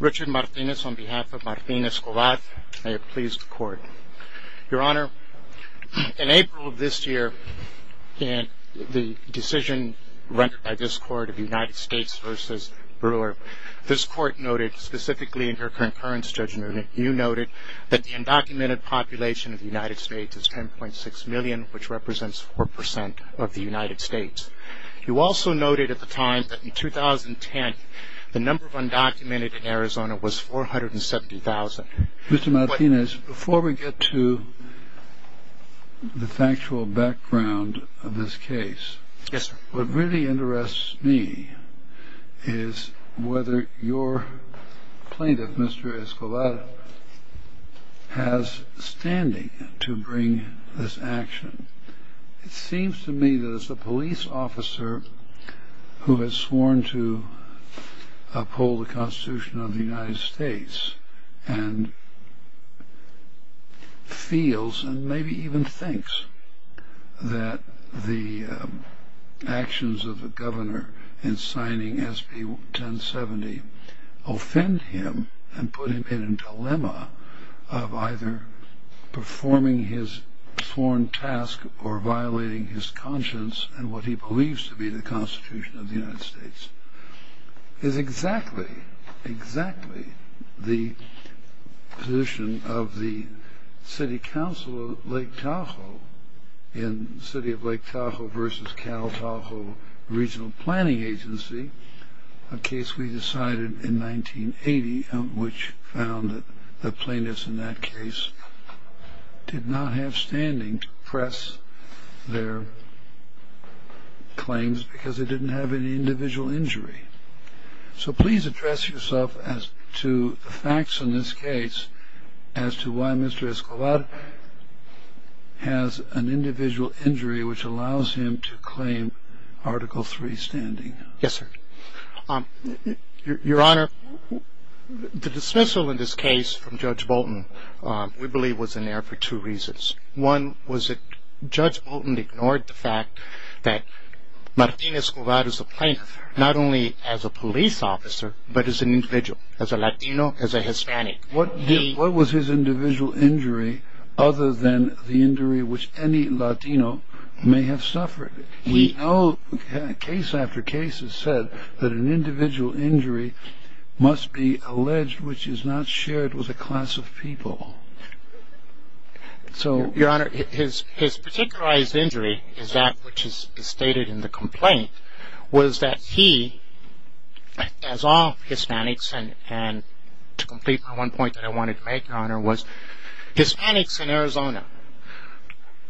Richard Martinez on behalf of Martinez-Cobart, may it please the court. Your Honor, in April of this year, the decision rendered by this court of United States v. Brewer, this court noted specifically in her concurrence judgment, you noted, that the undocumented population of the United States is 10.6 million, which represents 4% of the United States. You also noted at the time that in 2010, the number of undocumented in Arizona was 470,000. Mr. Martinez, before we get to the factual background of this case, what really interests me is whether your plaintiff, Mr. Escobar, has standing to bring this action. It seems to me that as a police officer who has sworn to uphold the Constitution of the United States and feels and maybe even thinks that the actions of the governor in signing SB 1070 offend him and put him in a dilemma of either performing his sworn task or violating his conscience and what he believes to be the Constitution of the United States. It is exactly, exactly the position of the City Council of Lake Tahoe in City of Lake Tahoe v. Cal Tahoe Regional Planning Agency. A case we decided in 1980, which found that the plaintiffs in that case did not have standing to press their claims because they didn't have any individual injury. So please address yourself as to the facts in this case as to why Mr. Escobar has an individual injury which allows him to claim Article III standing. Yes, sir. Your Honor, the dismissal in this case from Judge Bolton, we believe, was in there for two reasons. One was that Judge Bolton ignored the fact that Martinez Escobar is a plaintiff not only as a police officer but as an individual, as a Latino, as a Hispanic. What was his individual injury other than the injury which any Latino may have suffered? We know case after case has said that an individual injury must be alleged which is not shared with a class of people. Your Honor, his particularized injury is that which is stated in the complaint, was that he, as all Hispanics, and to complete my one point that I wanted to make, Your Honor, was Hispanics in Arizona,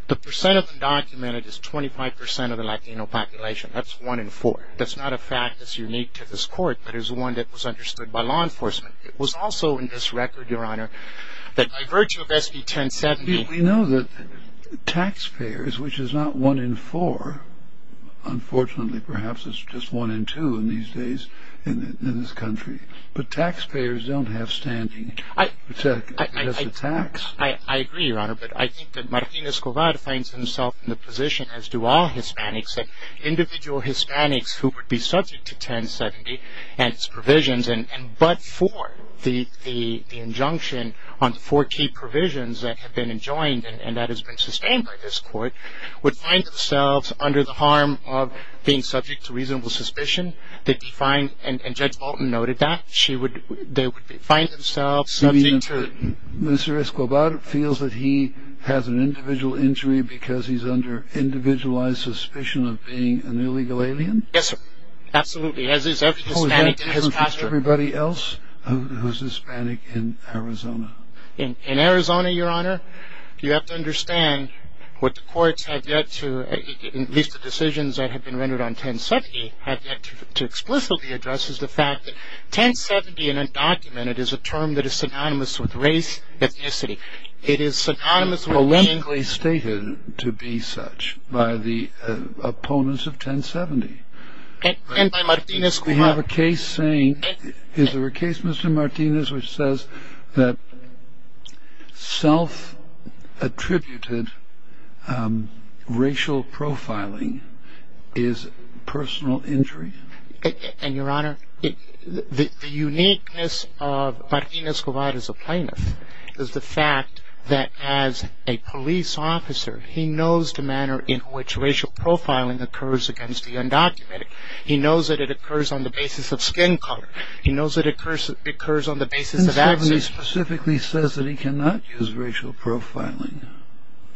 the percent of undocumented is 25% of the Latino population. That's one in four. That's not a fact that's unique to this court but is one that was understood by law enforcement. It was also in this record, Your Honor, that by virtue of SB 1070 We know that taxpayers, which is not one in four, unfortunately perhaps it's just one in two in these days in this country, but taxpayers don't have standing as a tax. I agree, Your Honor, but I think that Martinez Escobar finds himself in the position, as do all Hispanics, that individual Hispanics who would be subject to 1070 and its provisions but for the injunction on the four key provisions that have been enjoined and that has been sustained by this court, would find themselves under the harm of being subject to reasonable suspicion. And Judge Bolton noted that. They would find themselves subject to... You mean Mr. Escobar feels that he has an individual injury because he's under individualized suspicion of being an illegal alien? Yes, sir. As is every Hispanic in this country. How is that different from everybody else who's Hispanic in Arizona? In Arizona, Your Honor, you have to understand what the courts have yet to, at least the decisions that have been rendered on 1070, have yet to explicitly address is the fact that 1070 in a document, it is a term that is synonymous with race, ethnicity. It is synonymous with... Relentlessly stated to be such by the opponents of 1070. And by Martinez Escobar. We have a case saying, is there a case, Mr. Martinez, which says that self-attributed racial profiling is personal injury? And, Your Honor, the uniqueness of Martinez Escobar as a plaintiff is the fact that as a police officer, he knows the manner in which racial profiling occurs against the undocumented. He knows that it occurs on the basis of skin color. He knows that it occurs on the basis of... 1070 specifically says that he cannot use racial profiling.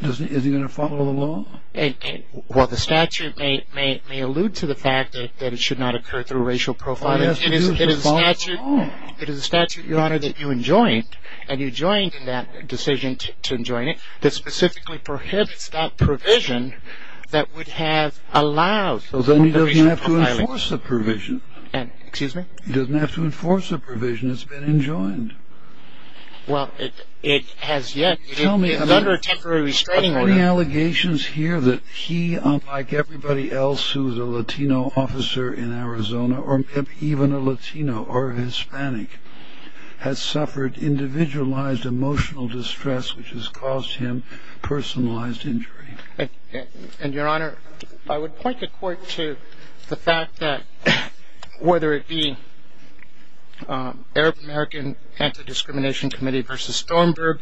Is he going to follow the law? Well, the statute may allude to the fact that it should not occur through racial profiling. It is a statute, Your Honor, that you enjoined, and you joined in that decision to enjoin it, that specifically prohibits that provision that would have allowed... So then he doesn't have to enforce the provision. Excuse me? He doesn't have to enforce the provision. It's been enjoined. Well, it has yet... Tell me... It's under a temporary restraining order. Are there any allegations here that he, unlike everybody else who is a Latino officer in Arizona, or even a Latino or Hispanic, has suffered individualized emotional distress, which has caused him personalized injury? And, Your Honor, I would point the court to the fact that whether it be Arab-American Anti-Discrimination Committee v. Stormberg,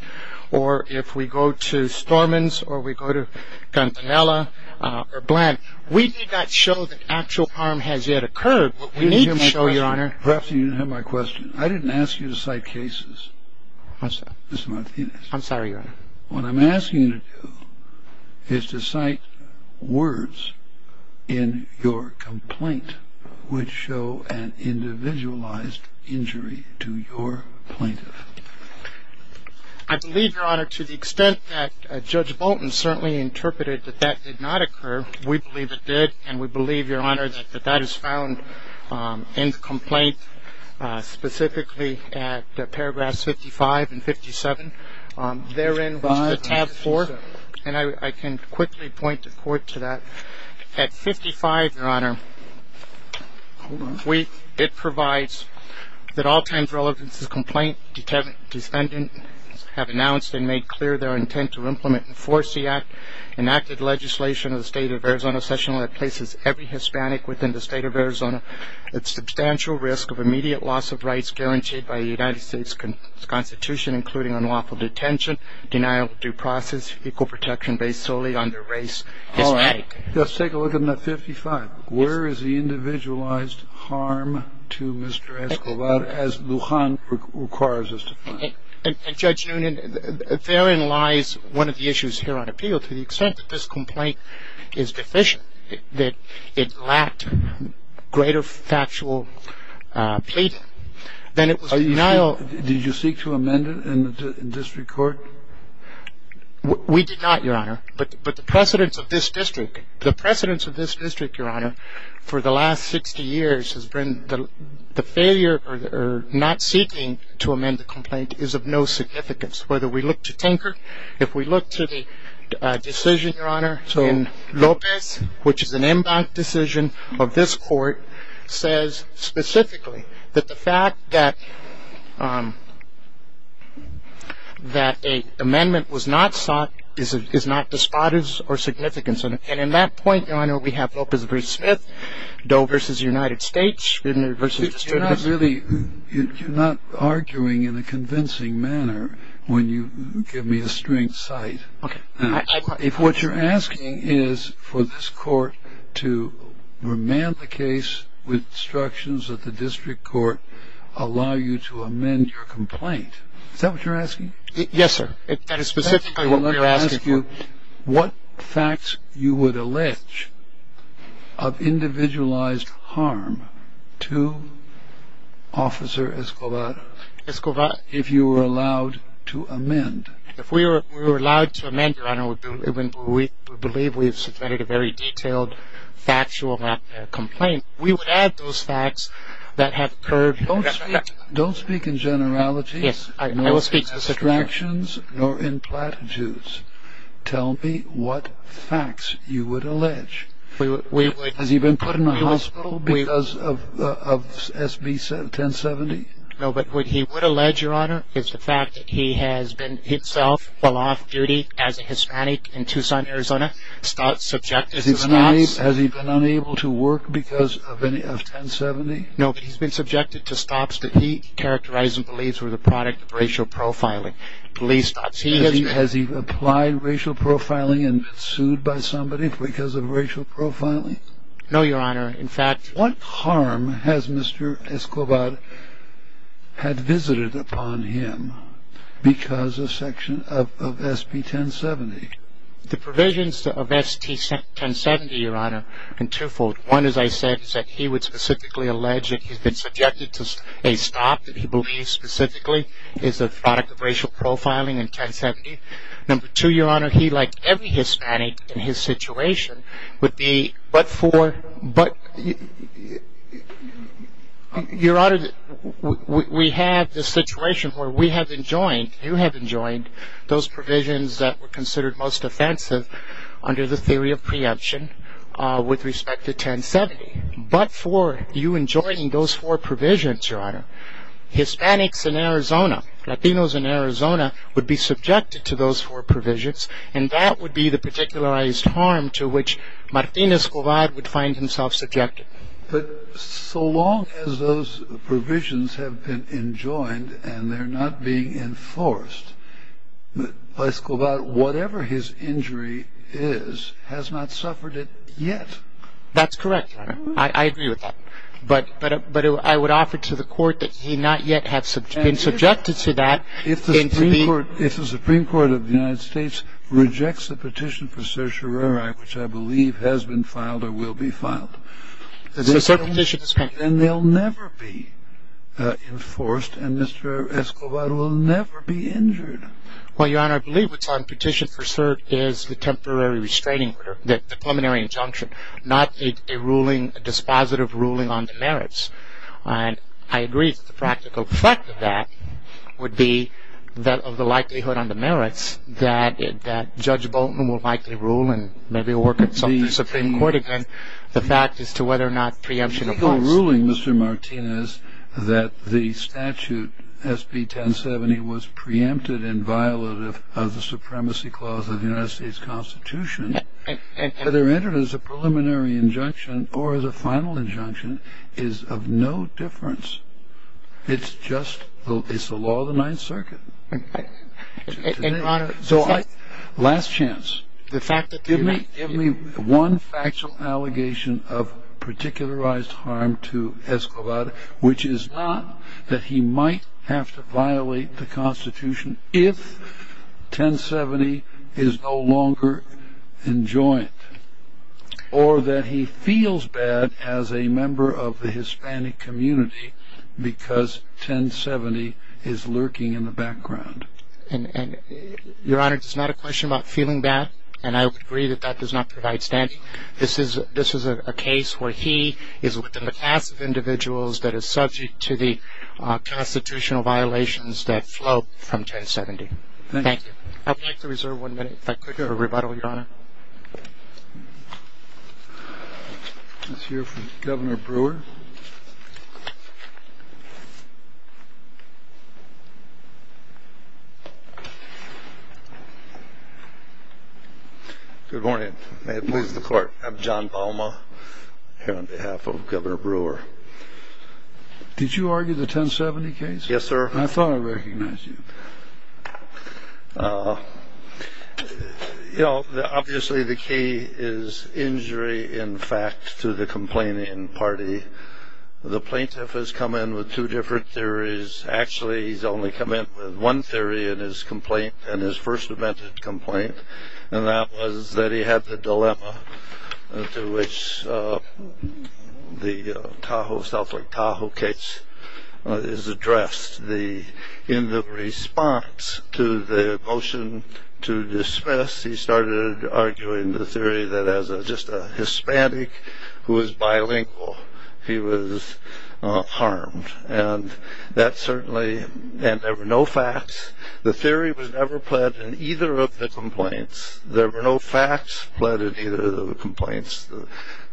or if we go to Stormans, or we go to Guantanamo, or Blanton, we did not show that actual harm has yet occurred. What we need to show, Your Honor... Perhaps you didn't have my question. I didn't ask you to cite cases, Mr. Martinez. I'm sorry, Your Honor. What I'm asking you to do is to cite words in your complaint which show an individualized injury to your plaintiff. I believe, Your Honor, to the extent that Judge Bolton certainly interpreted that that did not occur, we believe it did, and we believe, Your Honor, that that is found in the complaint, specifically at paragraphs 55 and 57. Therein was the tab 4. And I can quickly point the court to that. At 55, Your Honor, it provides that all times relevant to the complaint, defendants have announced and made clear their intent to implement and enforce the enacted legislation of the State of Arizona Session Law that places every Hispanic within the State of Arizona at substantial risk of immediate loss of rights guaranteed by the United States Constitution, including unlawful detention, denial of due process, equal protection based solely on their race, Hispanic. All right. Let's take a look at that 55. Where is the individualized harm to Mr. Escobar as Lujan requires us to find? And, Judge Noonan, therein lies one of the issues here on appeal to the extent that this complaint is deficient, that it lacked greater factual plea, then it was denial. Did you seek to amend it in district court? We did not, Your Honor, but the precedence of this district, the precedence of this district, Your Honor, for the last 60 years has been the failure or not seeking to amend the complaint is of no significance. Whether we look to Tinker, if we look to the decision, Your Honor, in Lopez, which is an impact decision of this court, says specifically that the fact that an amendment was not sought is not despotic or significant. And in that point, Your Honor, we have Lopez v. Smith, Doe v. United States v. District of Arizona. You're not arguing in a convincing manner when you give me the strength side. Okay. Now, if what you're asking is for this court to remand the case with instructions that the district court allow you to amend your complaint, is that what you're asking? Yes, sir. That is specifically what we are asking for. Let me ask you, what facts you would allege of individualized harm to Officer Escobar if you were allowed to amend? If we were allowed to amend, Your Honor, we believe we have submitted a very detailed factual complaint, we would add those facts that have occurred. Don't speak in generalities. Yes, I will speak to subtractions. Nor in platitudes. Tell me what facts you would allege. Has he been put in a hospital because of SB 1070? No, but what he would allege, Your Honor, is the fact that he himself, while off-duty as a Hispanic in Tucson, Arizona, has been subjected to stops. Has he been unable to work because of 1070? No, he's been subjected to stops that he characterized and believes were the product of racial profiling. Has he applied racial profiling and been sued by somebody because of racial profiling? No, Your Honor. What harm has Mr. Escobar had visited upon him because of SB 1070? The provisions of SB 1070, Your Honor, are twofold. One, as I said, is that he would specifically allege that he's been subjected to a stop that he believes specifically is the product of racial profiling in 1070. Number two, Your Honor, he, like every Hispanic in his situation, would be but for, Your Honor, we have the situation where we have enjoined, you have enjoined those provisions that were considered most offensive under the theory of preemption with respect to 1070. But for you enjoining those four provisions, Your Honor, Hispanics in Arizona, Latinos in Arizona, would be subjected to those four provisions, and that would be the particularized harm to which Martinez Escobar would find himself subjected. But so long as those provisions have been enjoined and they're not being enforced, Escobar, whatever his injury is, has not suffered it yet. That's correct, Your Honor. I agree with that. But I would offer to the court that he not yet have been subjected to that. If the Supreme Court of the United States rejects the petition for certiorari, which I believe has been filed or will be filed, then they'll never be enforced, and Mr. Escobar will never be injured. Well, Your Honor, I believe what's on petition for cert is the temporary restraining order, the preliminary injunction, not a ruling, a dispositive ruling on the merits. And I agree that the practical effect of that would be that of the likelihood on the merits that Judge Bolton will likely rule, and maybe he'll work with some of the Supreme Court again, the fact as to whether or not preemption applies. The ruling, Mr. Martinez, that the statute SB 1070 was preempted and violative of the Supremacy Clause of the United States Constitution, whether entered as a preliminary injunction or as a final injunction, is of no difference. It's just the law of the Ninth Circuit. And, Your Honor, the fact... Last chance. The fact that... Give me one factual allegation of particularized harm to Escobar, which is not that he might have to violate the Constitution if 1070 is no longer enjoined, or that he feels bad as a member of the Hispanic community because 1070 is lurking in the background. Your Honor, it's not a question about feeling bad, and I would agree that that does not provide standing. This is a case where he is within the class of individuals that is subject to the constitutional violations that flow from 1070. Thank you. I'd like to reserve one minute, if I could, for rebuttal, Your Honor. Let's hear from Governor Brewer. Governor Brewer. Good morning. May it please the Court. I'm John Palma, here on behalf of Governor Brewer. Did you argue the 1070 case? Yes, sir. I thought I recognized you. You know, obviously the key is injury, in fact, to the complaining party. The plaintiff has come in with two different theories. Actually, he's only come in with one theory in his complaint, in his first amended complaint, and that was that he had the dilemma to which the Tahoe stuff, like Tahoe case, is addressed. In the response to the motion to dismiss, he started arguing the theory that as just a Hispanic who is bilingual, he was harmed. And there were no facts. The theory was never pled in either of the complaints. There were no facts pled in either of the complaints. The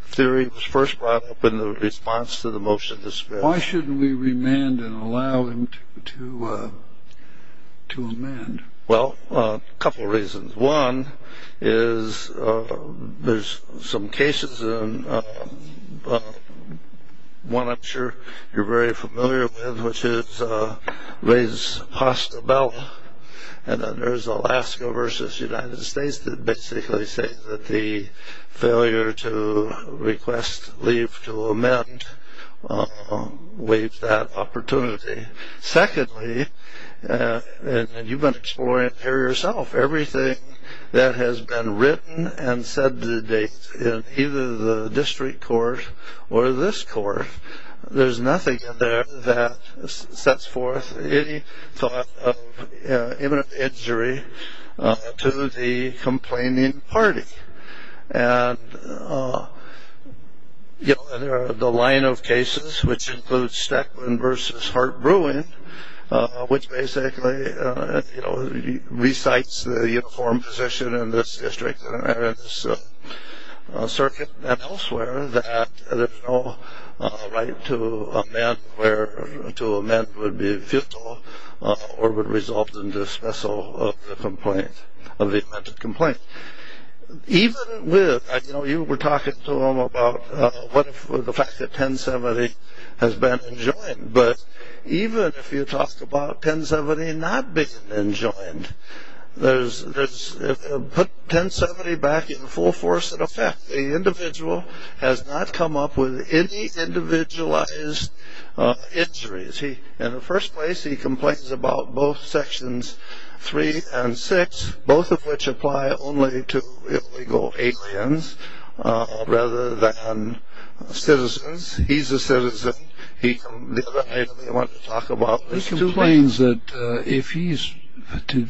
theory was first brought up in the response to the motion to dismiss. Why shouldn't we remand and allow him to amend? Well, a couple of reasons. One is there's some cases, one I'm sure you're very familiar with, which is Reyes-Hostebell, and then there's Alaska v. United States that basically say that the failure to request leave to amend waived that opportunity. Secondly, and you've been exploring it here yourself, everything that has been written and said to date in either the district court or this court, there's nothing in there that sets forth any thought of imminent injury to the complaining party. And the line of cases, which includes Stacklin v. Hart-Bruin, which basically recites the uniform position in this district and in this circuit and elsewhere, that there's no right to amend where to amend would be futile or would result in dismissal of the amended complaint. Even with, I know you were talking to him about the fact that 1070 has been enjoined, but even if you talk about 1070 not being enjoined, put 1070 back in full force into effect. The individual has not come up with any individualized injuries. In the first place, he complains about both sections three and six, both of which apply only to illegal aliens rather than citizens. He's a citizen. The other item he wanted to talk about was two things. He complains that if he's to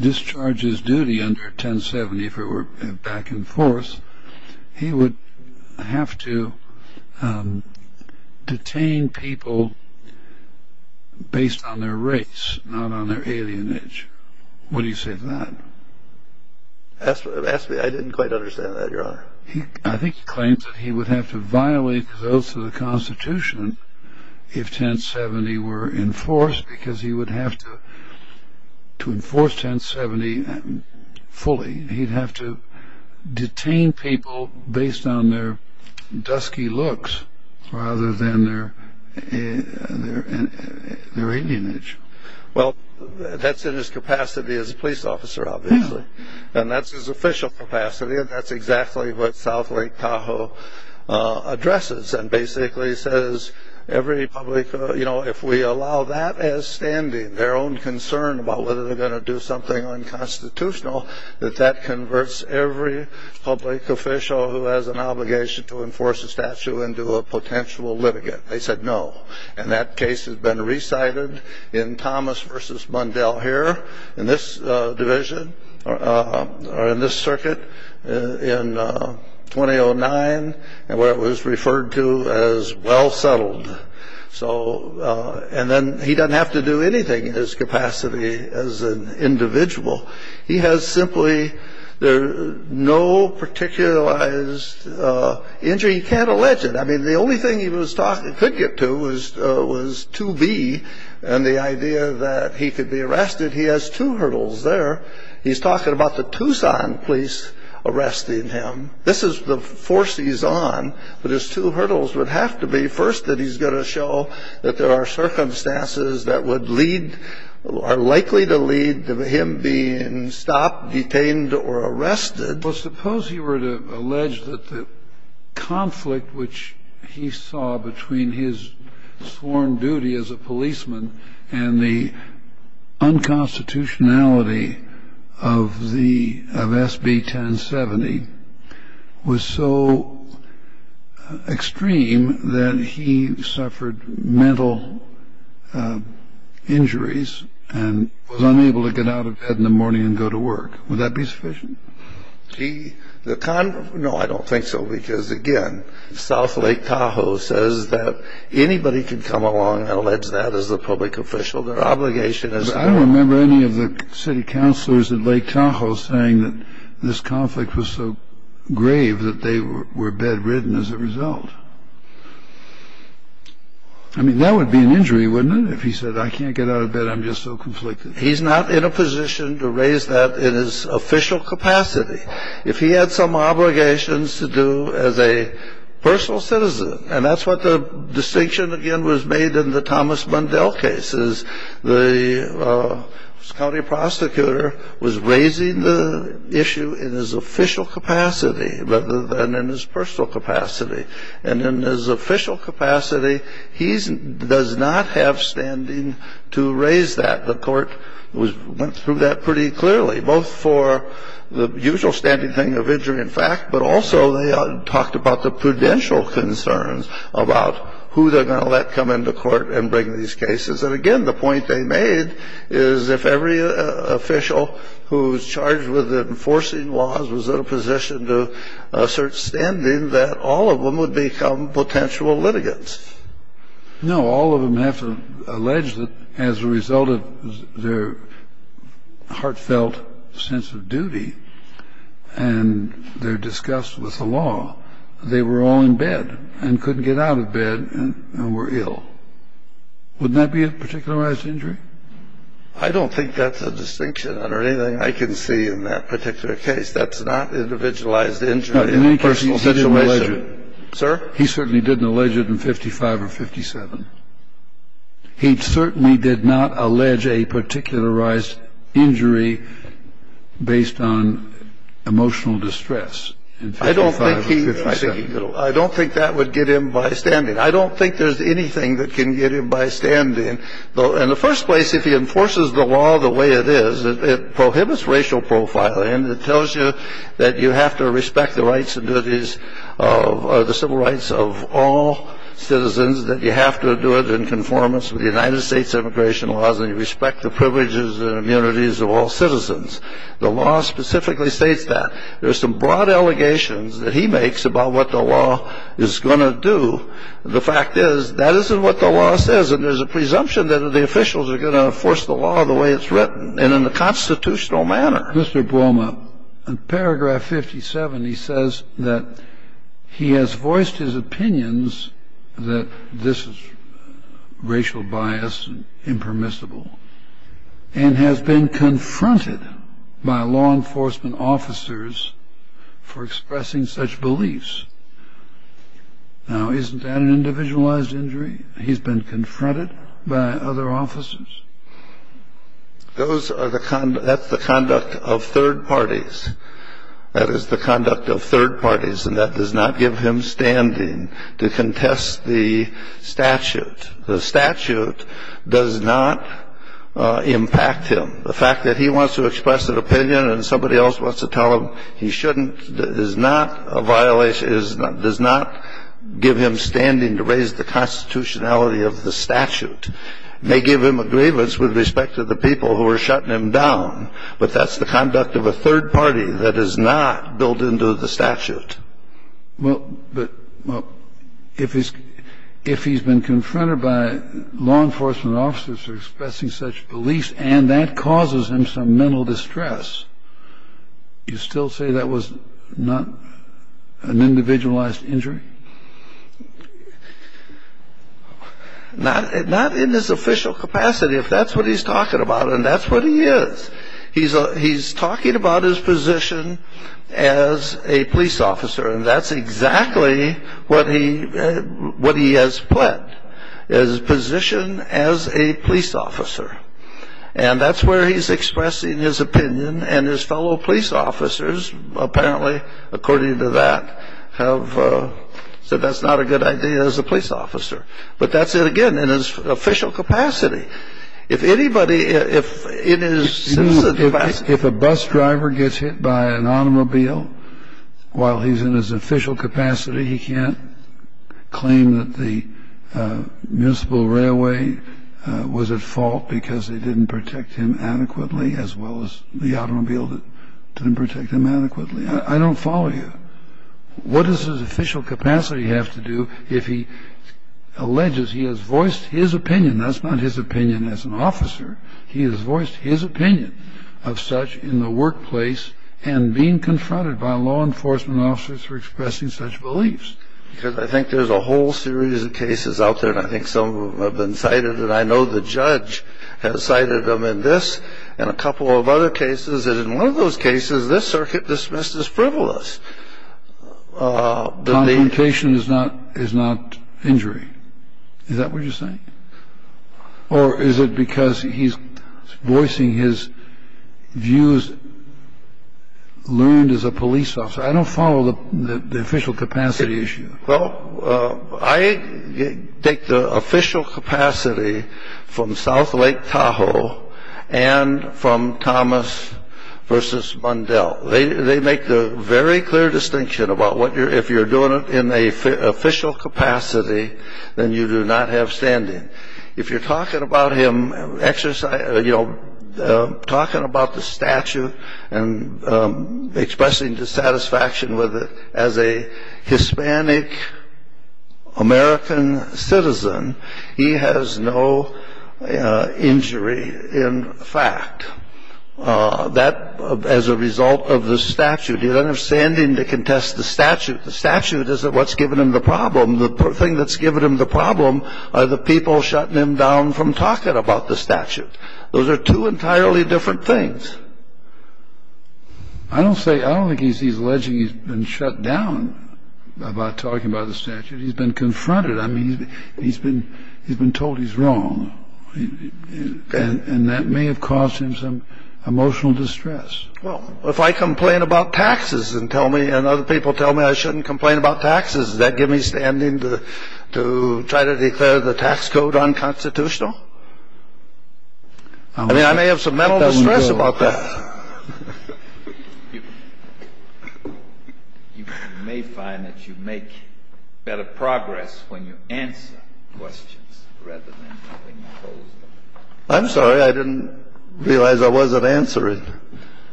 discharge his duty under 1070, if it were back and forth, he would have to detain people based on their race, not on their alienage. What do you say to that? I didn't quite understand that, Your Honor. I think he claims that he would have to violate the Constitution if 1070 were enforced because he would have to enforce 1070 fully. He'd have to detain people based on their dusky looks rather than their alienage. Well, that's in his capacity as a police officer, obviously, and that's his official capacity, and that's exactly what South Lake Tahoe addresses and basically says if we allow that as standing, their own concern about whether they're going to do something unconstitutional, that that converts every public official who has an obligation to enforce a statute into a potential litigant. They said no, and that case has been recited in Thomas v. Mundell here in this circuit in 2009 where it was referred to as well settled. And then he doesn't have to do anything in his capacity as an individual. He has simply no particularized injury. He can't allege it. I mean, the only thing he could get to was 2B and the idea that he could be arrested. He has two hurdles there. He's talking about the Tucson police arresting him. This is the force he's on, but his two hurdles would have to be, first, that he's going to show that there are circumstances that would lead or are likely to lead to him being stopped, detained, or arrested. Well, suppose he were to allege that the conflict which he saw between his sworn duty as a policeman and the unconstitutionality of SB 1070 was so extreme that he suffered mental injuries and was unable to get out of bed in the morning and go to work. Would that be sufficient? No, I don't think so because, again, South Lake Tahoe says that anybody can come along and allege that as a public official. Their obligation is their own. I don't remember any of the city councilors at Lake Tahoe saying that this conflict was so grave that they were bedridden as a result. I mean, that would be an injury, wouldn't it, if he said, I can't get out of bed, I'm just so conflicted? He's not in a position to raise that in his official capacity. If he had some obligations to do as a personal citizen, and that's what the distinction, again, was made in the Thomas Bundell case, is the county prosecutor was raising the issue in his official capacity rather than in his personal capacity. And in his official capacity, he does not have standing to raise that. The court went through that pretty clearly, both for the usual standing thing of injury in fact, but also they talked about the prudential concerns about who they're going to let come into court and bring these cases. And, again, the point they made is if every official who's charged with enforcing laws was in a position to assert standing, that all of them would become potential litigants. No, all of them have to allege that as a result of their heartfelt sense of duty and their disgust with the law, they were all in bed and couldn't get out of bed and were ill. Wouldn't that be a particularized injury? I don't think that's a distinction under anything I can see in that particular case. That's not individualized injury in a personal situation. No, in any case, he didn't allege it. Sir? He certainly didn't allege it in 55 or 57. He certainly did not allege a particularized injury based on emotional distress in 55 or 57. I don't think that would get him by standing. I don't think there's anything that can get him by standing. In the first place, if he enforces the law the way it is, it prohibits racial profiling and it tells you that you have to respect the civil rights of all citizens, that you have to do it in conformance with the United States immigration laws and you respect the privileges and immunities of all citizens. The law specifically states that. There are some broad allegations that he makes about what the law is going to do. The fact is that isn't what the law says, and there's a presumption that the officials are going to enforce the law the way it's written and in a constitutional manner. Mr. Buolma, in paragraph 57, he says that he has voiced his opinions that this is racial bias and impermissible and has been confronted by law enforcement officers for expressing such beliefs. Now, isn't that an individualized injury? He's been confronted by other officers? Those are the conduct of third parties. That is the conduct of third parties, and that does not give him standing to contest the statute. The statute does not impact him. The fact that he wants to express an opinion and somebody else wants to tell him he shouldn't is not a violation, does not give him standing to raise the constitutionality of the statute. It may give him a grievance with respect to the people who are shutting him down, but that's the conduct of a third party that is not built into the statute. Well, but if he's been confronted by law enforcement officers for expressing such beliefs and that causes him some mental distress, you still say that was not an individualized injury? Not in his official capacity, if that's what he's talking about, and that's what he is. He's talking about his position as a police officer, and that's exactly what he has put, his position as a police officer. And that's where he's expressing his opinion, and his fellow police officers apparently, according to that, have said that's not a good idea as a police officer. But that's it again, in his official capacity. If anybody, if in his citizen capacity. If a bus driver gets hit by an automobile while he's in his official capacity, he can't claim that the municipal railway was at fault because they didn't protect him adequately, as well as the automobile didn't protect him adequately. I don't follow you. What does his official capacity have to do if he alleges he has voiced his opinion? That's not his opinion as an officer. He has voiced his opinion of such in the workplace and being confronted by law enforcement officers for expressing such beliefs. Because I think there's a whole series of cases out there, and I think some have been cited, and I know the judge has cited them in this and a couple of other cases. And in one of those cases, this circuit dismissed as frivolous. Confrontation is not injury. Is that what you're saying? Or is it because he's voicing his views learned as a police officer? I don't follow the official capacity issue. Well, I take the official capacity from South Lake Tahoe and from Thomas v. Bundell. They make the very clear distinction about if you're doing it in an official capacity, then you do not have standing. If you're talking about him exercising or, you know, talking about the statute and expressing dissatisfaction with it as a Hispanic American citizen, he has no injury in fact. That, as a result of the statute, you don't have standing to contest the statute. The statute isn't what's giving him the problem. The thing that's giving him the problem are the people shutting him down from talking about the statute. Those are two entirely different things. I don't think he's alleging he's been shut down by talking about the statute. He's been confronted. I mean, he's been told he's wrong, and that may have caused him some emotional distress. Well, if I complain about taxes and other people tell me I shouldn't complain about taxes, does that give me standing to try to declare the tax code unconstitutional? I mean, I may have some mental distress about that. You may find that you make better progress when you answer questions rather than when you pose them. I'm sorry. I didn't realize I wasn't answering.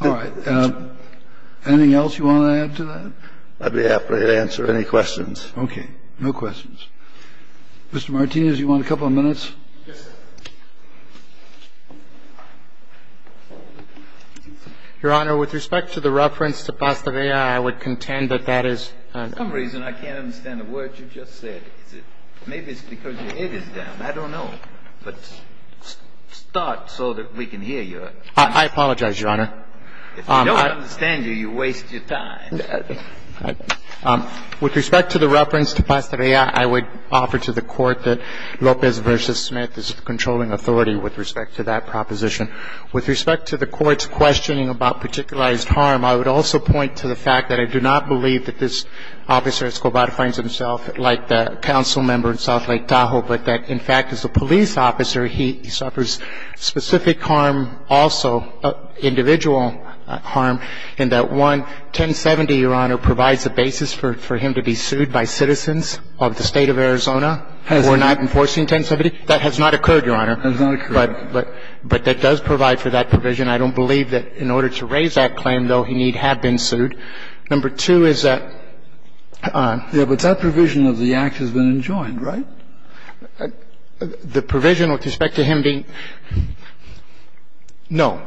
All right. Anything else you want to add to that? I'd be happy to answer any questions. Okay. No questions. Mr. Martinez, you want a couple of minutes? Yes, sir. Your Honor, with respect to the reference to Pastavera, I would contend that that is an understatement. For some reason, I can't understand a word you just said. Maybe it's because your head is down. I don't know. But start so that we can hear you. I apologize, Your Honor. If we don't understand you, you waste your time. With respect to the reference to Pastavera, I would offer to the Court that Lopez v. Smith is a controlling authority with respect to that proposition. With respect to the Court's questioning about particularized harm, I would also point to the fact that I do not believe that this officer, Escobar, finds himself like the council member in South Lake Tahoe, but that, in fact, as a police officer, he suffers specific harm also, individual harm, and that, one, 1070, Your Honor, provides the basis for him to be sued by citizens of the State of Arizona who are not enforcing 1070. That has not occurred, Your Honor. That has not occurred. But that does provide for that provision. I don't believe that in order to raise that claim, though, he need have been sued. Number two is that on ---- Yes, but that provision of the Act has been enjoined, right? The provision with respect to him being ---- no,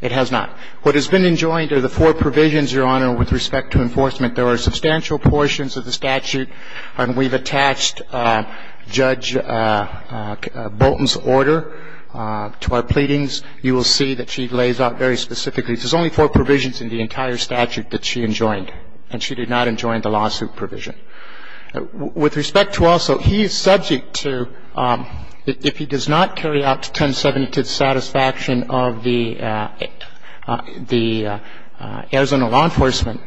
it has not. What has been enjoined are the four provisions, Your Honor, with respect to enforcement. There are substantial portions of the statute, and we've attached Judge Bolton's order to our pleadings. You will see that she lays out very specifically. There's only four provisions in the entire statute that she enjoined, and she did not enjoin the lawsuit provision. With respect to also, he is subject to, if he does not carry out 1070 to the satisfaction of the Arizona law enforcement,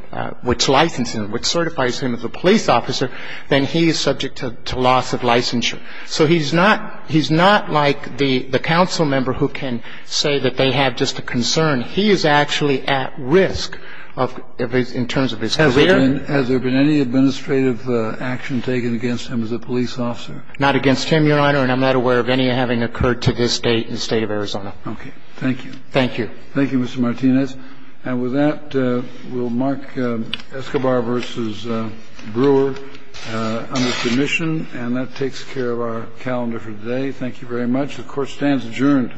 which licenses him, which certifies him as a police officer, then he is subject to loss of licensure. So he's not like the council member who can say that they have just a concern. He is actually at risk in terms of his career. Has there been any administrative action taken against him as a police officer? Not against him, Your Honor, and I'm not aware of any having occurred to this State of Arizona. Okay. Thank you. Thank you. Thank you, Mr. Martinez. And with that, we'll mark Escobar v. Brewer under submission. And that takes care of our calendar for today. Thank you very much. The Court stands adjourned.